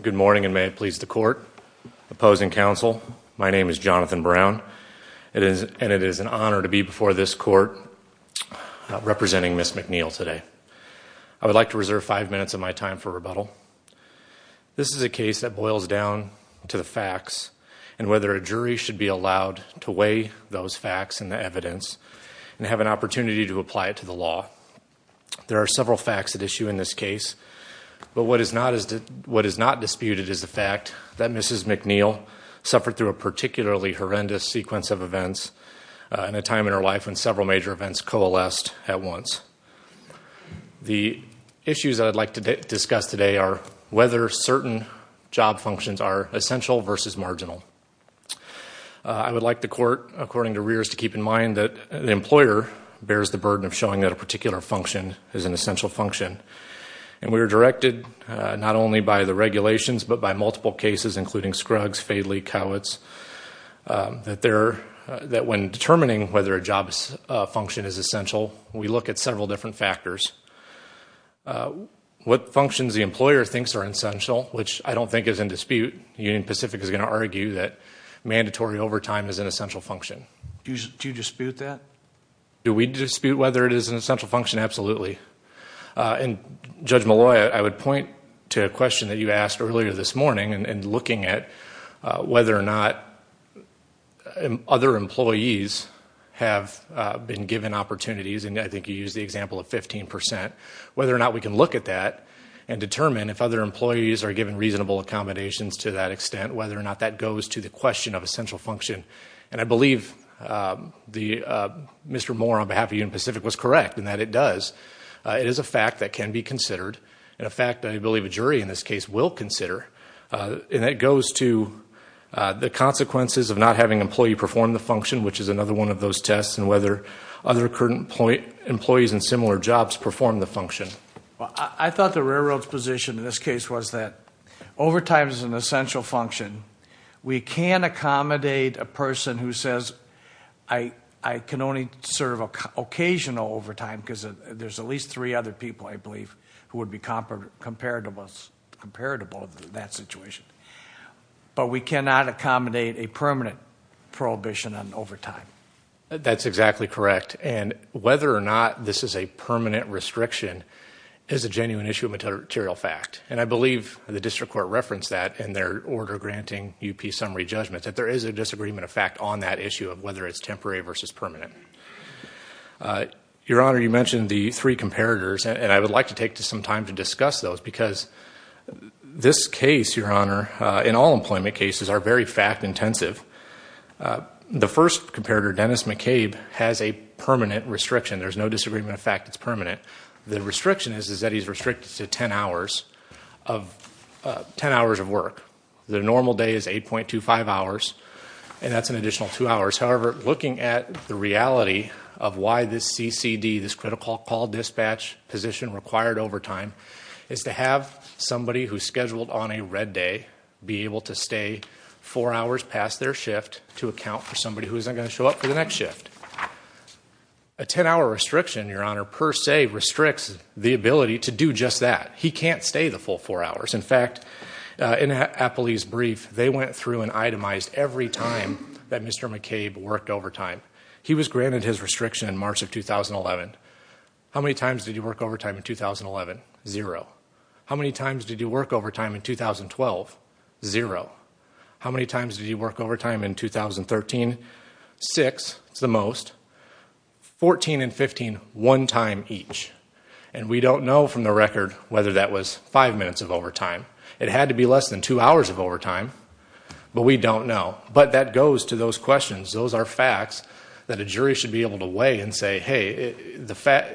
Good morning and may it please the court. Opposing counsel, my name is Jonathan Brown. It is and it is an honor to be before this court representing Ms. McNeil today. I would like to reserve five minutes of my time for rebuttal. This is a case that boils down to the facts and whether a jury should be allowed to weigh those facts and the evidence and have an opportunity to apply it to the law. There are several facts at issue in this case but what is not disputed is the fact that Mrs. McNeil suffered through a particularly horrendous sequence of events in a time in her life when several major events coalesced at once. The issues that I'd like to discuss today are whether certain job functions are essential versus marginal. I would like the court, according to Rears, to keep in mind that the employer bears the burden of showing that a particular function is an essential function and we not only by the regulations but by multiple cases including Scruggs, Fadley, Cowitz, that when determining whether a job function is essential, we look at several different factors. What functions the employer thinks are essential, which I don't think is in dispute, Union Pacific is going to argue that mandatory overtime is an essential function. Do you dispute that? Do we dispute whether it is an essential function? Absolutely. And Judge Malloy, I would point to a question that you asked earlier this morning and looking at whether or not other employees have been given opportunities, and I think you use the example of 15%, whether or not we can look at that and determine if other employees are given reasonable accommodations to that extent, whether or not that goes to the question of essential function. And I believe Mr. Moore on behalf of Union Pacific was correct in that it does. It is a fact that can be considered, and a fact I believe a jury in this case will consider, and that goes to the consequences of not having an employee perform the function, which is another one of those tests, and whether other current employees in similar jobs perform the function. I thought the railroad's position in this case was that overtime is an essential function. We can accommodate a person who says I can only serve occasional overtime because there's at least three other people I believe who would be comparable to that situation, but we cannot accommodate a permanent prohibition on overtime. That's exactly correct, and whether or not this is a permanent restriction is a genuine issue of material fact, and I believe the District Court referenced that in their order granting UP summary judgments, that there is a disagreement of fact on that issue of whether it's temporary versus permanent. Your Honor, you mentioned the three comparators, and I would like to take some time to discuss those because this case, Your Honor, in all employment cases are very fact intensive. The first comparator, Dennis McCabe, has a permanent restriction. There's no disagreement of fact it's permanent. The restriction is that he's restricted to 10 hours of work. The normal day is 8.25 hours, and that's an additional two hours. However, looking at the reality of why this CCD, this critical call dispatch position required overtime, is to have somebody who's scheduled on a red day be able to stay four hours past their shift to account for somebody who isn't going to show up for the next shift. A 10-hour restriction, Your Honor, per se restricts the ability to do just that. He can't stay the full four hours. In fact, in Appley's brief, they went through and itemized every time that Mr. McCabe worked overtime. He was granted his restriction in March of 2011. How many times did you work overtime in 2011? Zero. How many times did you work overtime in 2012? Zero. How many times did you work overtime in 2013? Six, it's the most. 14 and 15, one time each, and we don't know from the record whether that was five minutes of overtime. It had to be less than two hours of overtime, but we don't know. But that goes to those questions. Those are facts that a jury should be able to weigh and say, hey, the fact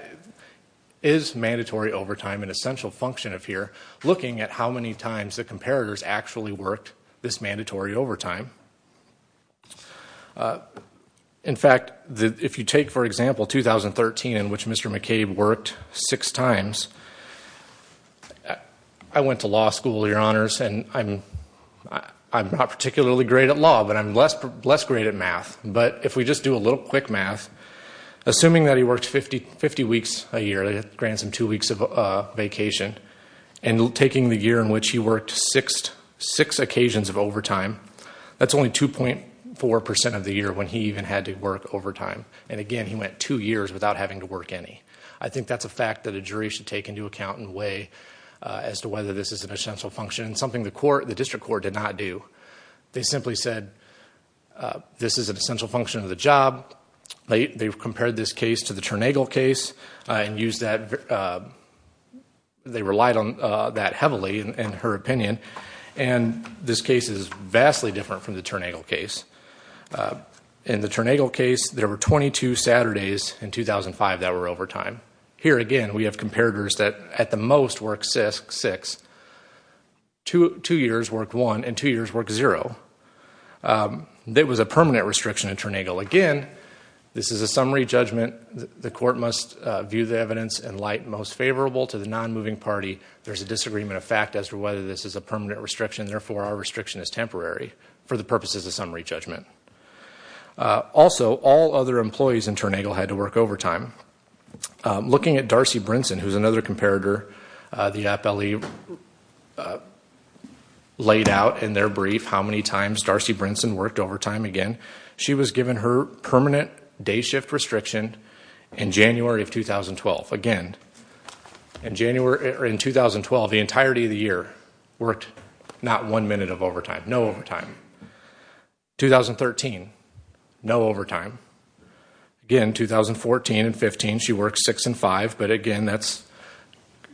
is mandatory overtime an essential function of here? Looking at how many times the comparators actually worked this mandatory overtime. In fact, if you take, for example, 2013 in which Mr. McCabe worked six times, I went to law school, your honors, and I'm not particularly great at law, but I'm less great at math. But if we just do a little quick math, assuming that he worked 50 weeks a year, granted him two weeks of vacation, and taking the year in which he worked six occasions of overtime, that's only 2.4% of the year when he even had to work overtime. And again, he went two years without having to work any. I think that's a fact that a jury should take into account and weigh as to whether this is an essential function, something the district court did not do. They simply said, this is an essential function of the job. They've compared this case to the Turnagel case and used that... they relied on that heavily, in her opinion. And this case is vastly different from the Turnagel case. In the Turnagel case, there were 22 Saturdays in 2005 that were overtime. Here, again, we have six. Two years worked one and two years worked zero. There was a permanent restriction in Turnagel. Again, this is a summary judgment. The court must view the evidence in light most favorable to the non-moving party. There's a disagreement of fact as to whether this is a permanent restriction. Therefore, our restriction is temporary for the purposes of summary judgment. Also, all other employees in Turnagel had to work overtime. Looking at Darcy Brinson, who's another comparator, the FLE laid out in their brief how many times Darcy Brinson worked overtime. Again, she was given her permanent day shift restriction in January of 2012. Again, in January in 2012, the entirety of the year worked not one minute of overtime, no overtime. 2013, no overtime. Again, 2014 and 2015, she worked six and five. Again, that's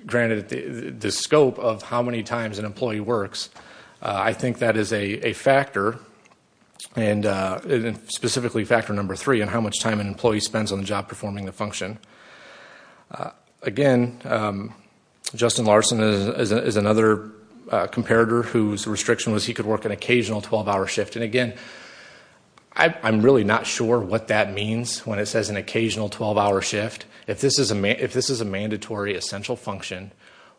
granted the scope of how many times an employee works. I think that is a factor and specifically factor number three and how much time an employee spends on the job performing the function. Again, Justin Larson is another comparator whose restriction was he could work an occasional 12-hour shift. Again, I'm really not sure what that 12-hour shift, if this is a mandatory essential function,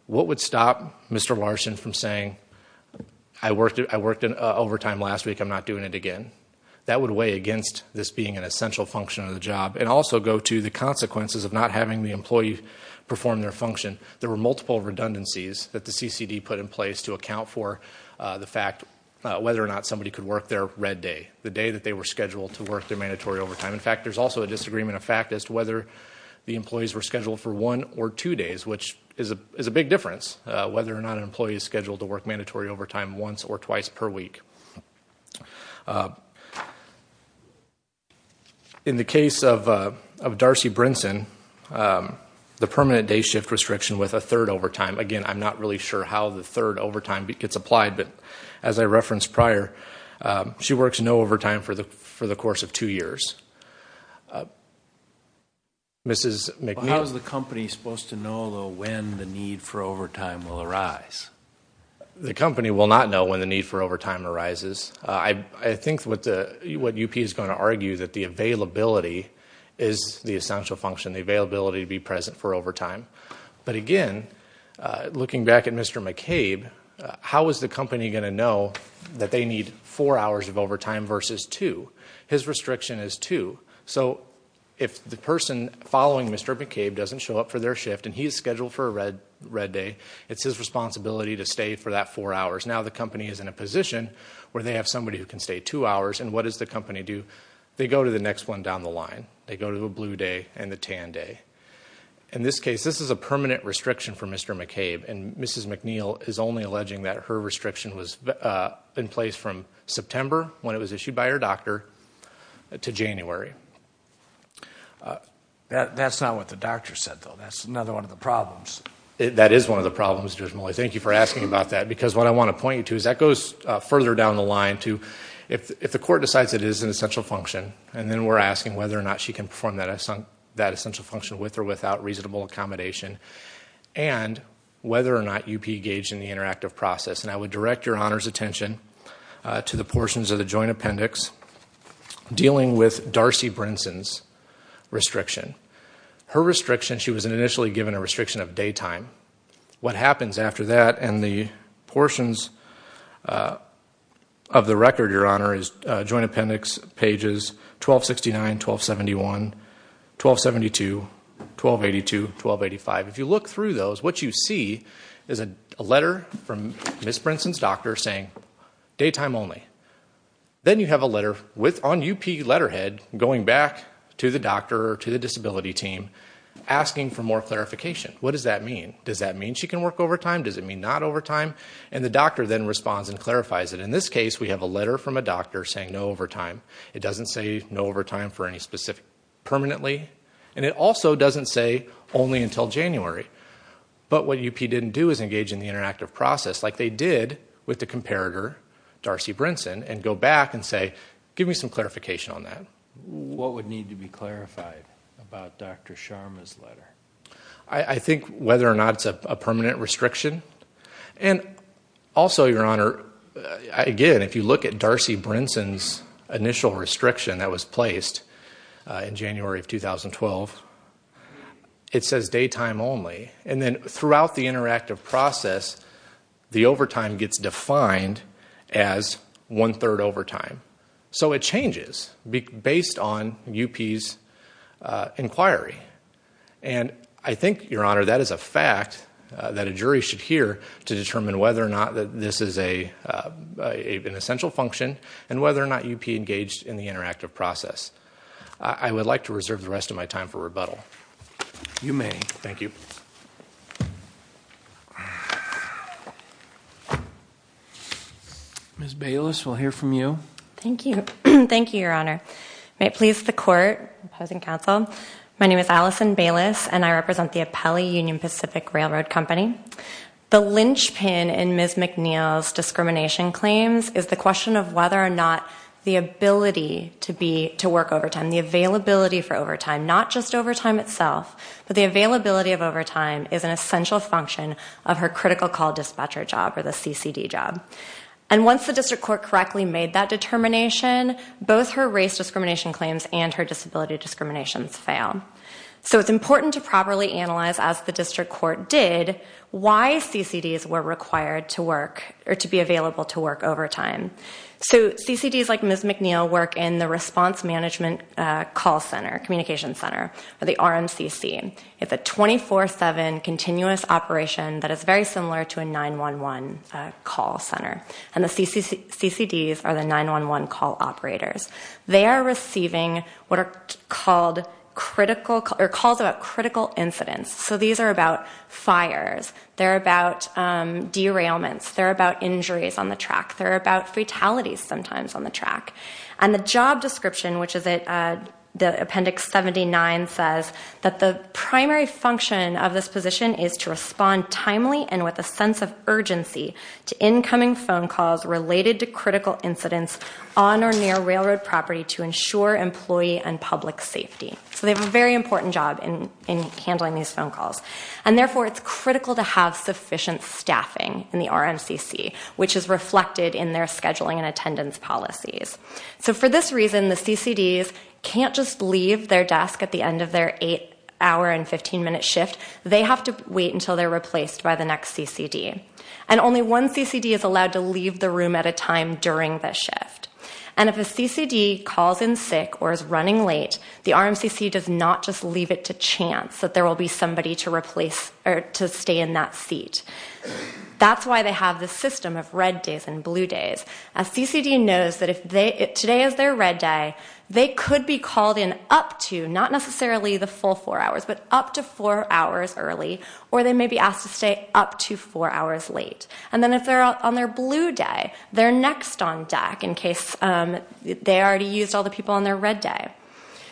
what would stop Mr. Larson from saying I worked in overtime last week, I'm not doing it again. That would weigh against this being an essential function of the job and also go to the consequences of not having the employee perform their function. There were multiple redundancies that the CCD put in place to account for the fact whether or not somebody could work their red day, the day that they were scheduled to work their mandatory overtime. In fact, there's also a disagreement of fact as to whether the employees were scheduled for one or two days, which is a big difference, whether or not an employee is scheduled to work mandatory overtime once or twice per week. In the case of Darcy Brinson, the permanent day shift restriction with a third overtime, again I'm not really sure how the third overtime gets applied, but as I Mrs. McNeil. How is the company supposed to know when the need for overtime will arise? The company will not know when the need for overtime arises. I think what UP is going to argue that the availability is the essential function, the availability to be present for overtime. But again, looking back at Mr. McCabe, how is the company going to know that they need four hours of overtime? So if the person following Mr. McCabe doesn't show up for their shift and he is scheduled for a red day, it's his responsibility to stay for that four hours. Now the company is in a position where they have somebody who can stay two hours and what does the company do? They go to the next one down the line. They go to a blue day and the tan day. In this case, this is a permanent restriction for Mr. McCabe and Mrs. McNeil is only alleging that her restriction was in place from September, when it was issued by her doctor, to January. That's not what the doctor said, though. That's another one of the problems. That is one of the problems, Judge Mulley. Thank you for asking about that because what I want to point you to is that goes further down the line to if the court decides it is an essential function and then we're asking whether or not she can perform that essential function with or without reasonable accommodation and whether or not UP engaged in the interactive process. And I would direct your Honor's attention to the portions of the joint Darcy Brinson's restriction. Her restriction, she was initially given a restriction of daytime. What happens after that and the portions of the record, Your Honor, is joint appendix pages 1269, 1271, 1272, 1282, 1285. If you look through those, what you see is a letter from Miss Brinson's doctor saying daytime only. Then you have a letter on UP letterhead going back to the doctor or to the disability team asking for more clarification. What does that mean? Does that mean she can work overtime? Does it mean not overtime? And the doctor then responds and clarifies it. In this case, we have a letter from a doctor saying no overtime. It doesn't say no overtime for any specific permanently and it also doesn't say only until January. But what UP didn't do is compare her, Darcy Brinson, and go back and say give me some clarification on that. What would need to be clarified about Dr. Sharma's letter? I think whether or not it's a permanent restriction. And also, Your Honor, again if you look at Darcy Brinson's initial restriction that was placed in January of 2012, it says daytime only. And then throughout the interactive process, the overtime gets defined as one-third overtime. So it changes based on UP's inquiry. And I think, Your Honor, that is a fact that a jury should hear to determine whether or not that this is a an essential function and whether or not UP engaged in the interactive process. I would like to reserve the rest of my time for rebuttal. You may. Thank you. Ms. Baylis, we'll hear from you. Thank you. Thank you, Your Honor. May it please the court, opposing counsel, my name is Allison Baylis and I represent the Apelli Union Pacific Railroad Company. The linchpin in Ms. McNeil's discrimination claims is the question of whether or not the ability to be to work overtime, the availability for overtime, not just overtime itself, but the availability of overtime is an essential function of her critical call dispatcher job or the CCD job. And once the district court correctly made that determination, both her race discrimination claims and her disability discriminations fail. So it's important to properly analyze, as the district court did, why CCDs were required to work or to be available to work overtime. So CCDs like Ms. McNeil work in the response management call center, communication center, or the RMCC. It's a 24-7 continuous operation that is very similar to a 9-1-1 call center. And the CCDs are the 9-1-1 call operators. They are receiving what are called critical, or calls about critical incidents. So these are about fires, they're about derailments, they're about injuries on the track, they're about fatalities sometimes on the track. And the job description, which is it, the appendix 79 says that the primary function of this position is to respond timely and with a sense of urgency to incoming phone calls related to critical incidents on or near railroad property to ensure employee and public safety. So they have a very important job in handling these phone calls. And therefore it's critical to have sufficient staffing in the RMCC, which is reflected in their scheduling and attendance policies. So for this reason, the CCDs can't just leave their desk at the end of their 8-hour and 15-minute shift. They have to wait until they're replaced by the next CCD. And only one CCD is allowed to leave the room at a time during the shift. And if a CCD calls in sick or is running late, the RMCC does not just leave it to chance that there will be somebody to replace or to stay in that seat. That's why they have the system of red days and blue days. A CCD knows that if they, today is their red day, they could be called in up to, not necessarily the full four hours, but up to four hours early. Or they may be asked to stay up to four hours late. And then if they're on their blue day, they're next on deck in case they already used all the people on their red day.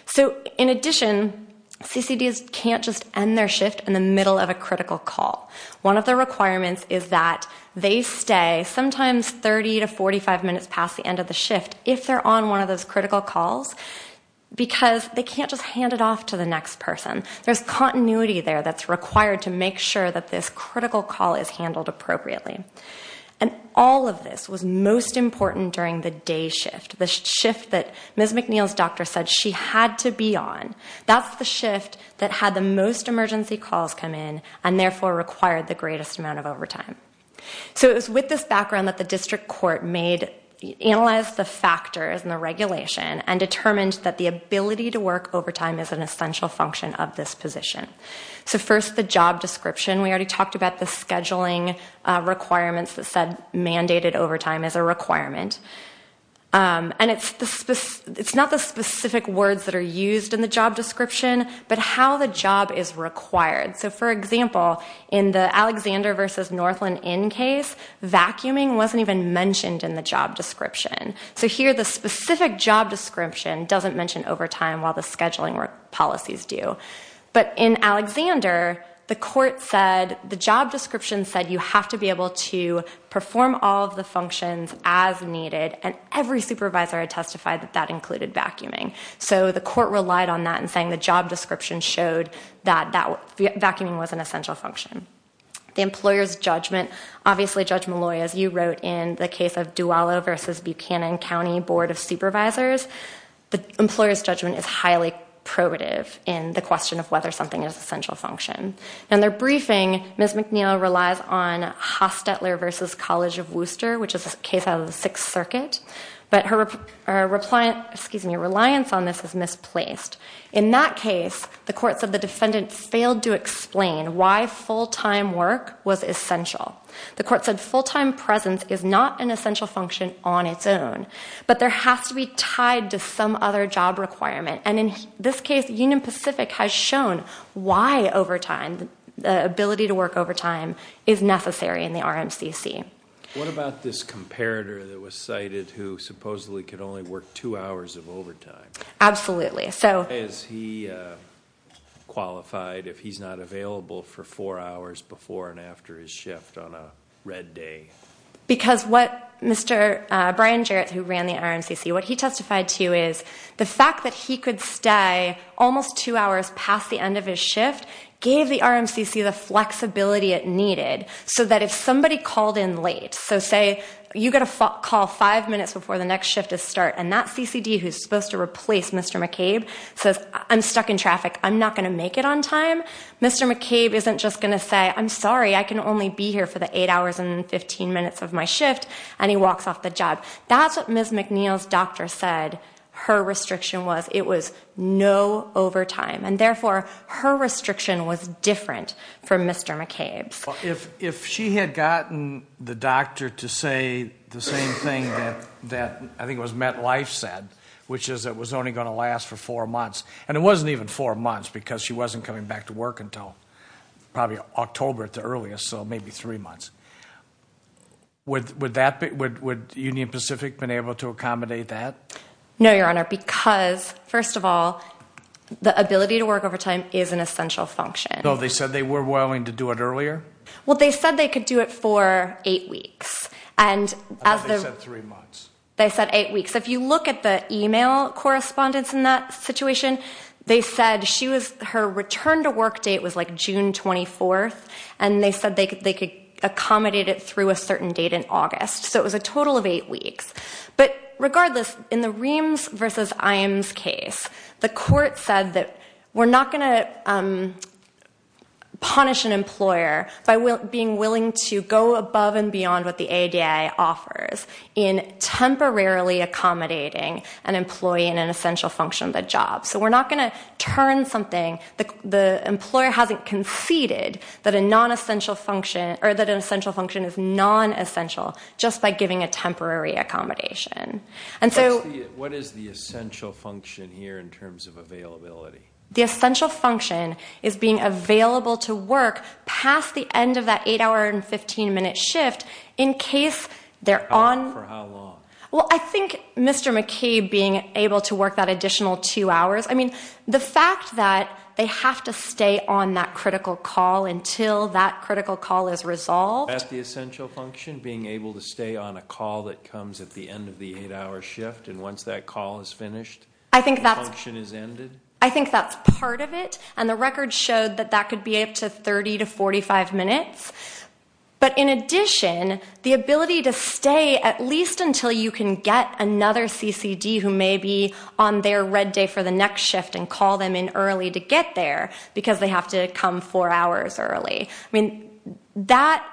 So in addition, CCDs can't just end their shift in the middle of a critical call. One of the requirements is that they stay sometimes 30 to 45 minutes past the end of the shift if they're on one of those critical calls. Because they can't just hand it off to the next person. There's continuity there that's required to make sure that this critical call is handled appropriately. And all of this was most important during the day shift. The shift that Ms. McNeil's doctor said she had to be on. That's the shift that had the most emergency calls come in and therefore required the greatest amount of overtime. So it was with this background that the district court made, analyzed the factors and the regulation and determined that the ability to work overtime is an essential function of this position. So first, the job description. We already talked about the scheduling requirements that said mandated overtime is a requirement. And it's not the specific words that are used in the job description, but how the job is required. So for example, in the Alexander versus Northland Inn case, vacuuming wasn't even mentioned in the job description. So here the specific job description doesn't mention overtime while the scheduling policies do. But in Alexander, the court said the job description said you have to be able to perform all of the functions as needed and every supervisor had testified that that included vacuuming. So the court relied on that and saying the job description showed that vacuuming was an essential function. The employer's judgment, obviously Judge Malloy, as you wrote in the case of the supervisors, the employer's judgment is highly probative in the question of whether something is an essential function. In their briefing, Ms. McNeil relies on Hostetler versus College of Worcester, which is a case out of the Sixth Circuit, but her reliance on this is misplaced. In that case, the courts of the defendant failed to explain why full-time work was essential. The court said full-time presence is not an essential function on the job description. It's tied to some other job requirement. And in this case, Union Pacific has shown why overtime, the ability to work overtime, is necessary in the RMCC. What about this comparator that was cited who supposedly could only work two hours of overtime? Absolutely. So... Why is he qualified if he's not available for four hours before and after his shift on a red day? Because what Mr. Brian Jarrett, who ran the RMCC, what he testified to is the fact that he could stay almost two hours past the end of his shift gave the RMCC the flexibility it needed so that if somebody called in late, so say you get a call five minutes before the next shift is start and that CCD who's supposed to replace Mr. McCabe says, I'm stuck in traffic, I'm not gonna make it on time. Mr. McCabe isn't just gonna say, I'm sorry, I can only be here for the eight hours and 15 minutes of my shift, and he walks off the job. That's what Ms. McNeil's doctor said her restriction was. It was no overtime. And therefore, her restriction was different from Mr. McCabe's. If she had gotten the doctor to say the same thing that I think was MetLife said, which is it was only gonna last for four months, and it wasn't even four months because she wasn't coming back to work until probably October at maybe three months. Would Union Pacific been able to accommodate that? No, your honor, because first of all, the ability to work over time is an essential function. Though they said they were willing to do it earlier? Well, they said they could do it for eight weeks, and they said eight weeks. If you look at the email correspondence in that situation, they said her return to work date was like June 24th, and they said they could accommodate it through a certain date in August. So it was a total of eight weeks. But regardless, in the Reams versus Imes case, the court said that we're not gonna punish an employer by being willing to go above and beyond what the ADA offers in temporarily accommodating an employee in an essential function of a job. So we're not gonna turn something the employer hasn't conceded that a essential function is non-essential just by giving a temporary accommodation. And so what is the essential function here in terms of availability? The essential function is being available to work past the end of that 8 hour and 15 minute shift in case they're on... For how long? Well, I think Mr. McCabe being able to work that additional two hours. I mean, the fact that they have to stay on that critical call until that critical call is resolved. That's the essential function, being able to stay on a call that comes at the end of the eight hour shift, and once that call is finished, I think that function is ended? I think that's part of it, and the record showed that that could be up to 30 to 45 minutes. But in addition, the ability to stay at least until you can get another CCD who may be on their red day for the next shift and call them in early to get there because they have to come four hours early. I mean, that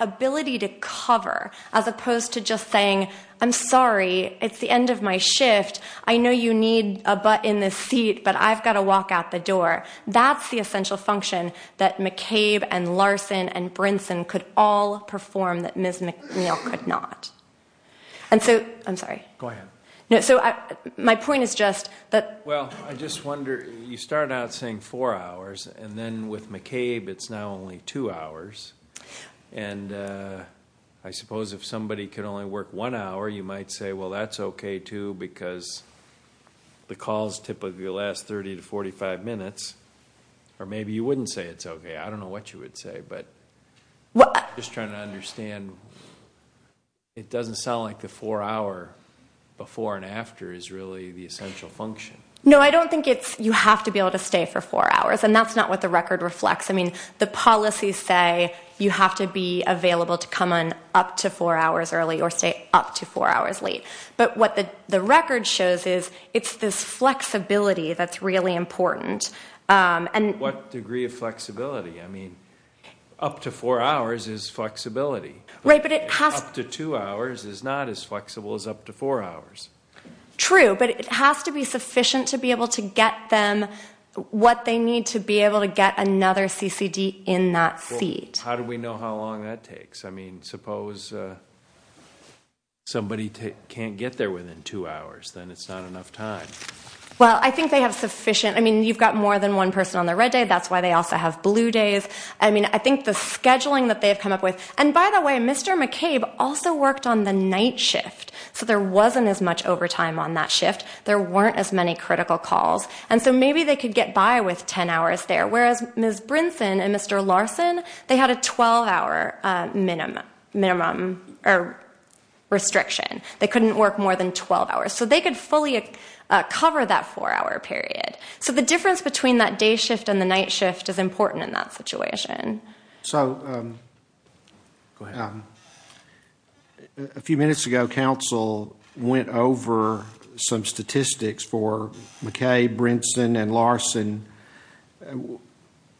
ability to cover as opposed to just saying, I'm sorry, it's the end of my shift, I know you need a butt in this seat, but I've got to walk out the door. That's the essential function that McCabe and Larson and Brinson could all perform that Ms. McNeil could not. And so, I'm sorry. Go ahead. No, so my point is Well, I just wonder, you start out saying four hours and then with McCabe it's now only two hours, and I suppose if somebody could only work one hour you might say well that's okay too because the calls typically last 30 to 45 minutes, or maybe you wouldn't say it's okay. I don't know what you would say, but what I'm just trying to understand, it doesn't sound like the four hour before and after is really the essential function. No, I don't think it's you have to be able to stay for four hours, and that's not what the record reflects. I mean, the policies say you have to be available to come on up to four hours early or stay up to four hours late, but what the record shows is it's this flexibility that's really important. And what degree of flexibility? I mean, up to four hours is flexibility. Right, but it has to two hours is not as flexible as up to four hours. True, but it has to be sufficient to be able to get them what they need to be able to get another CCD in that seat. How do we know how long that takes? I mean, suppose somebody can't get there within two hours, then it's not enough time. Well, I think they have sufficient, I mean, you've got more than one person on their red day, that's why they also have blue days. I mean, I think the scheduling that they have come up with, and by the way, Mr. McCabe also worked on the night shift, so there wasn't as much overtime on that shift. There weren't as many critical calls, and so maybe they could get by with 10 hours there, whereas Ms. Brinson and Mr. Larson, they had a 12-hour minimum or restriction. They couldn't work more than 12 hours, so they could fully cover that four-hour period. So the difference between that day shift and the night shift is a few minutes ago, council went over some statistics for McCabe, Brinson, and Larson,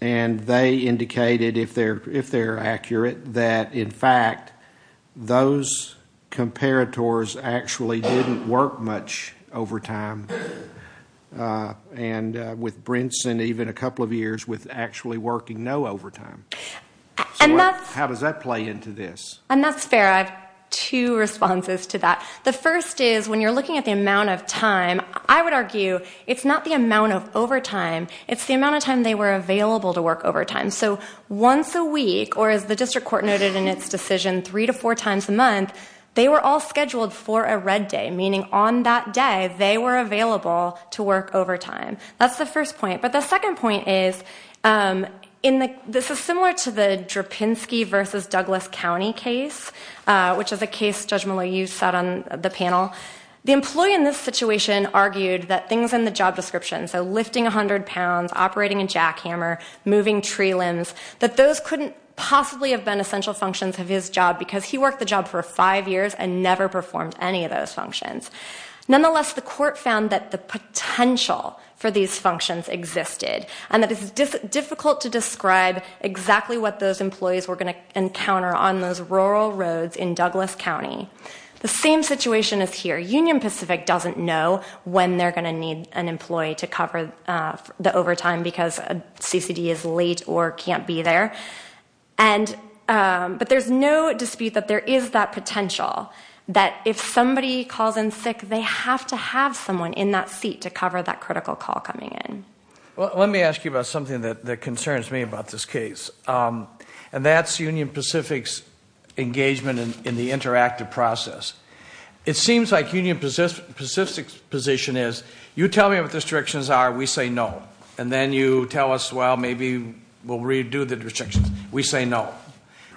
and they indicated, if they're accurate, that in fact those comparators actually didn't work much overtime, and with Brinson, even a couple of years with actually working no overtime. How does that play into this? And that's fair. I have two responses to that. The first is, when you're looking at the amount of time, I would argue it's not the amount of overtime, it's the amount of time they were available to work overtime. So once a week, or as the district court noted in its decision, three to four times a month, they were all scheduled for a red day, meaning on that day they were available to work overtime. That's the first point. But the second point is, this is similar to the Drapinski versus Douglas County case, which is a case Judge Malou set on the panel. The employee in this situation argued that things in the job description, so lifting a hundred pounds, operating a jackhammer, moving tree limbs, that those couldn't possibly have been essential functions of his job because he worked the job for five years and never performed any of those functions. Nonetheless, the court found that the potential for these functions existed and that it's difficult to describe exactly what those employees were going to encounter on those rural roads in Douglas County. The same situation is here. Union Pacific doesn't know when they're going to need an employee to cover the overtime because CCD is late or can't be there. But there's no potential that if somebody calls in sick, they have to have someone in that seat to cover that critical call coming in. Well, let me ask you about something that concerns me about this case, and that's Union Pacific's engagement in the interactive process. It seems like Union Pacific's position is, you tell me what the restrictions are, we say no. And then you tell us, well, maybe we'll redo the restrictions. We say no.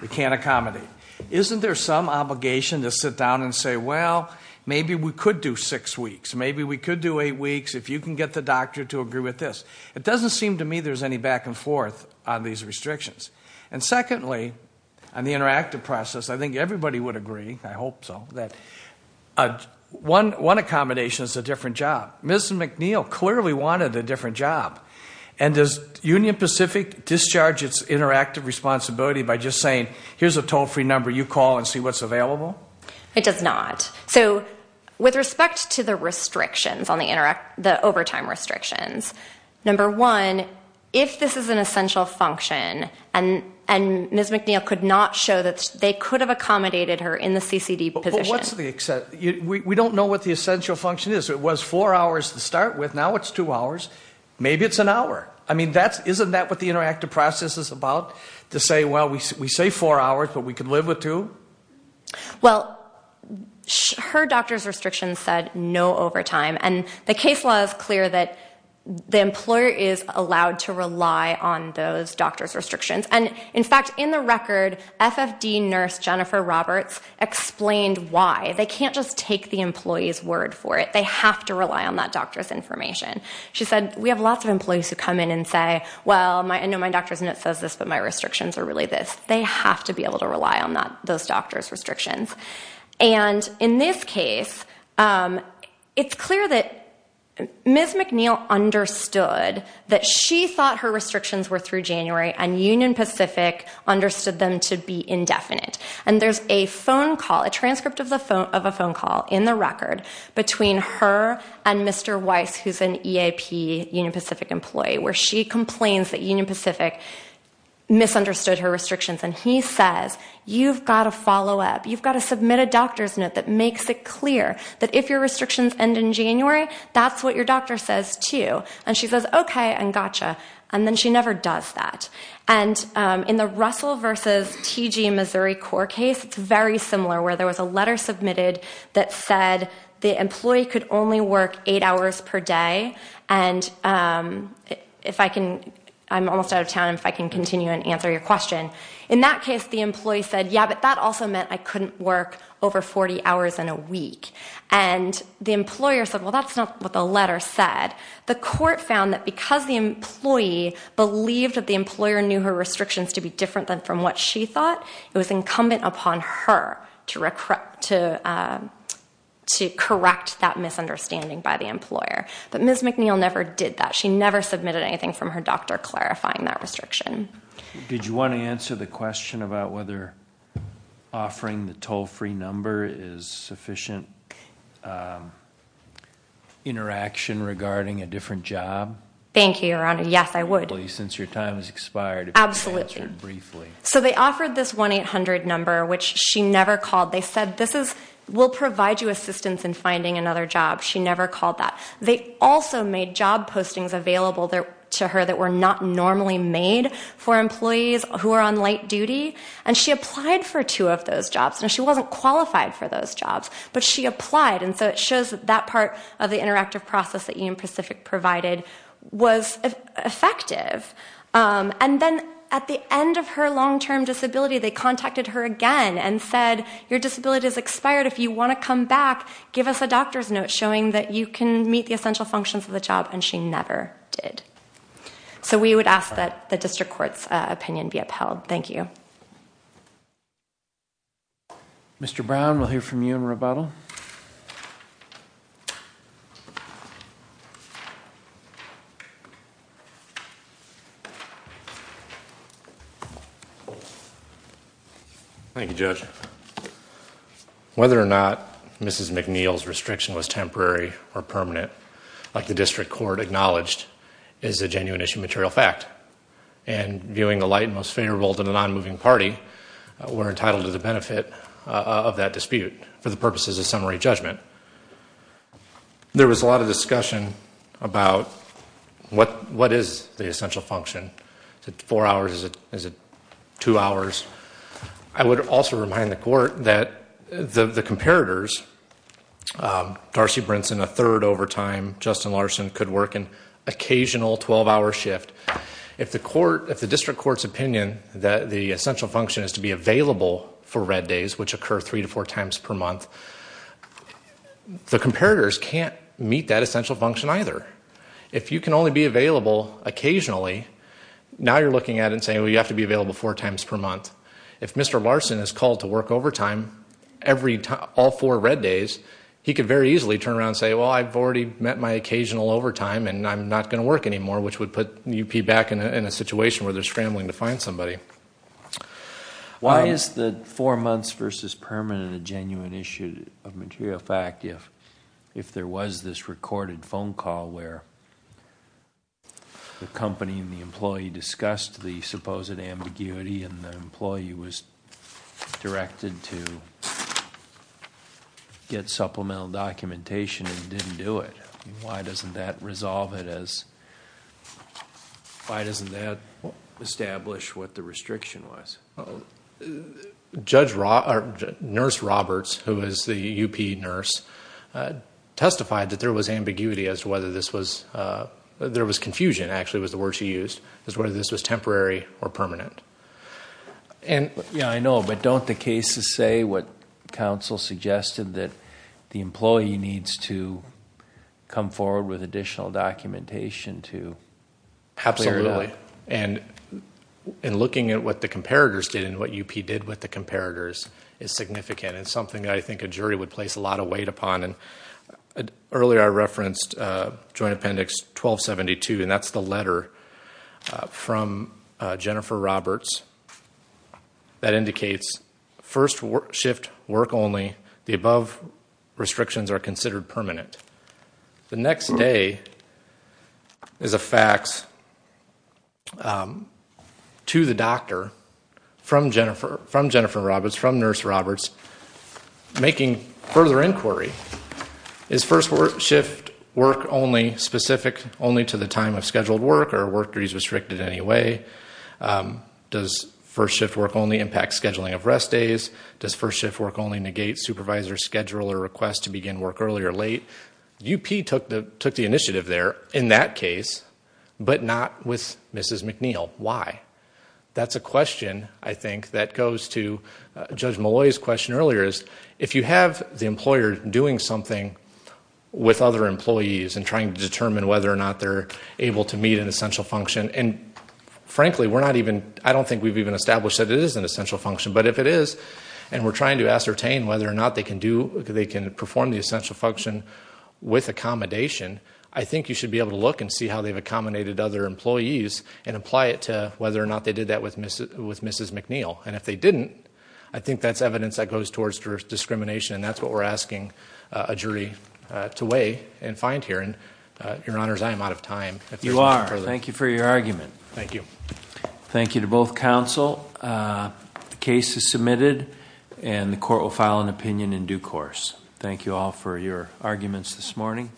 We can't accommodate. Isn't there some obligation to sit down and say, well, maybe we could do six weeks, maybe we could do eight weeks, if you can get the doctor to agree with this. It doesn't seem to me there's any back-and-forth on these restrictions. And secondly, on the interactive process, I think everybody would agree, I hope so, that one accommodation is a different job. Ms. McNeil clearly wanted a different job. And does Union Pacific discharge its interactive responsibility by just making sure that it's available? It does not. So, with respect to the restrictions on the overtime restrictions, number one, if this is an essential function, and Ms. McNeil could not show that they could have accommodated her in the CCD position. We don't know what the essential function is. It was four hours to start with, now it's two hours. Maybe it's an hour. I mean, isn't that what the interactive process is about? To say, well, we say four hours, but we can live with two? Well, her doctor's restrictions said no overtime. And the case law is clear that the employer is allowed to rely on those doctor's restrictions. And in fact, in the record, FFD nurse Jennifer Roberts explained why. They can't just take the employee's word for it. They have to rely on that doctor's information. She said, we have lots of employees who come in and say, well, I know my doctor's note says this, but my restrictions are really this. They have to be able to rely on those doctor's restrictions. And in this case, it's clear that Ms. McNeil understood that she thought her restrictions were through January, and Union Pacific understood them to be indefinite. And there's a phone call, a transcript of a phone call in the record, between her and Mr. Weiss, who's an EAP Union Pacific employee, where she And he says, you've got to follow up. You've got to submit a doctor's note that makes it clear that if your restrictions end in January, that's what your doctor says, too. And she says, okay, and gotcha. And then she never does that. And in the Russell versus TG Missouri court case, it's very similar, where there was a letter submitted that said the employee could only work eight hours per day, and if I can, I'm almost out of town, if I can continue and answer your question. In that case, the employee said, yeah, but that also meant I couldn't work over 40 hours in a week. And the employer said, well, that's not what the letter said. The court found that because the employee believed that the employer knew her restrictions to be different than from what she thought, it was incumbent upon her to correct that misunderstanding by the employer. But Ms. McNeil never did that. She never submitted anything from her doctor clarifying that restriction. Did you want to answer the question about whether offering the toll-free number is sufficient interaction regarding a different job? Thank you, Your Honor. Yes, I would. Since your time has expired. Absolutely. So they offered this 1-800 number, which she never called. They said, we'll provide you assistance in finding another job. She never called that. They also made job postings available to her that were not normally made for employees who are on late duty, and she applied for two of those jobs. Now, she wasn't qualified for those jobs, but she applied, and so it shows that that part of the interactive process that you and Pacific provided was effective. And then at the end of her long-term disability, they contacted her again and said, your disability has expired. If you want to come back, give us a doctor's note showing that you can meet the essential functions of the job, and she never did. So we would ask that the district court's opinion be upheld. Thank you. Mr. Brown, we'll hear from you in rebuttal. Thank you, Judge. Whether or not Mrs. McNeil's restriction was temporary or permanent, like the district court acknowledged, is a genuine issue material fact. And viewing the light and most favorable to the non-moving party, we're summary judgment. There was a lot of discussion about what is the essential function. Is it four hours? Is it two hours? I would also remind the court that the comparators, Darcy Brinson a third overtime, Justin Larson could work an occasional 12-hour shift. If the district court's opinion that the essential function is to be available for red days, which the comparators can't meet that essential function either. If you can only be available occasionally, now you're looking at it and saying, well, you have to be available four times per month. If Mr. Larson is called to work overtime every time, all four red days, he could very easily turn around and say, well, I've already met my occasional overtime and I'm not going to work anymore, which would put UP back in a situation where they're scrambling to a material fact. If there was this recorded phone call where the company and the employee discussed the supposed ambiguity and the employee was directed to get supplemental documentation and didn't do it, why doesn't that resolve it? Why doesn't that establish what the restriction was? Nurse Roberts, who is the UP nurse, testified that there was ambiguity as to whether this was, there was confusion actually was the word she used, as whether this was temporary or permanent. I know, but don't the cases say what counsel suggested that the employee needs to come forward with additional documentation to clear that? Absolutely, and in looking at what the comparators did and what UP did with the comparators is significant. It's something I think a jury would place a lot of weight upon and earlier I referenced Joint Appendix 1272 and that's the letter from Jennifer Roberts that indicates first shift work only, the above restrictions are considered permanent. The next day is a fax to the doctor from Jennifer, from Jennifer Roberts, from Nurse Roberts making further inquiry. Is first shift work only specific only to the time of scheduled work or work restricted in any way? Does first shift work only impact scheduling of rest days? Does first shift work only negate supervisor schedule or request to begin work early or late? UP took the initiative there in that case, but not with Mrs. McNeil. Why? That's a question I think that goes to Judge Malloy's question earlier is if you have the employer doing something with other employees and trying to determine whether or not they're able to meet an essential function and frankly we're not even, I don't think we've even established that it is an essential function, but if it is and we're trying to ascertain whether or not they can do with accommodation, I think you should be able to look and see how they've accommodated other employees and apply it to whether or not they did that with Mrs. McNeil and if they didn't, I think that's evidence that goes towards discrimination and that's what we're asking a jury to weigh and find here and your honors I am out of time. You are. Thank you for your argument. Thank you. Thank you to both counsel. The case is submitted and the court will hear the arguments this morning.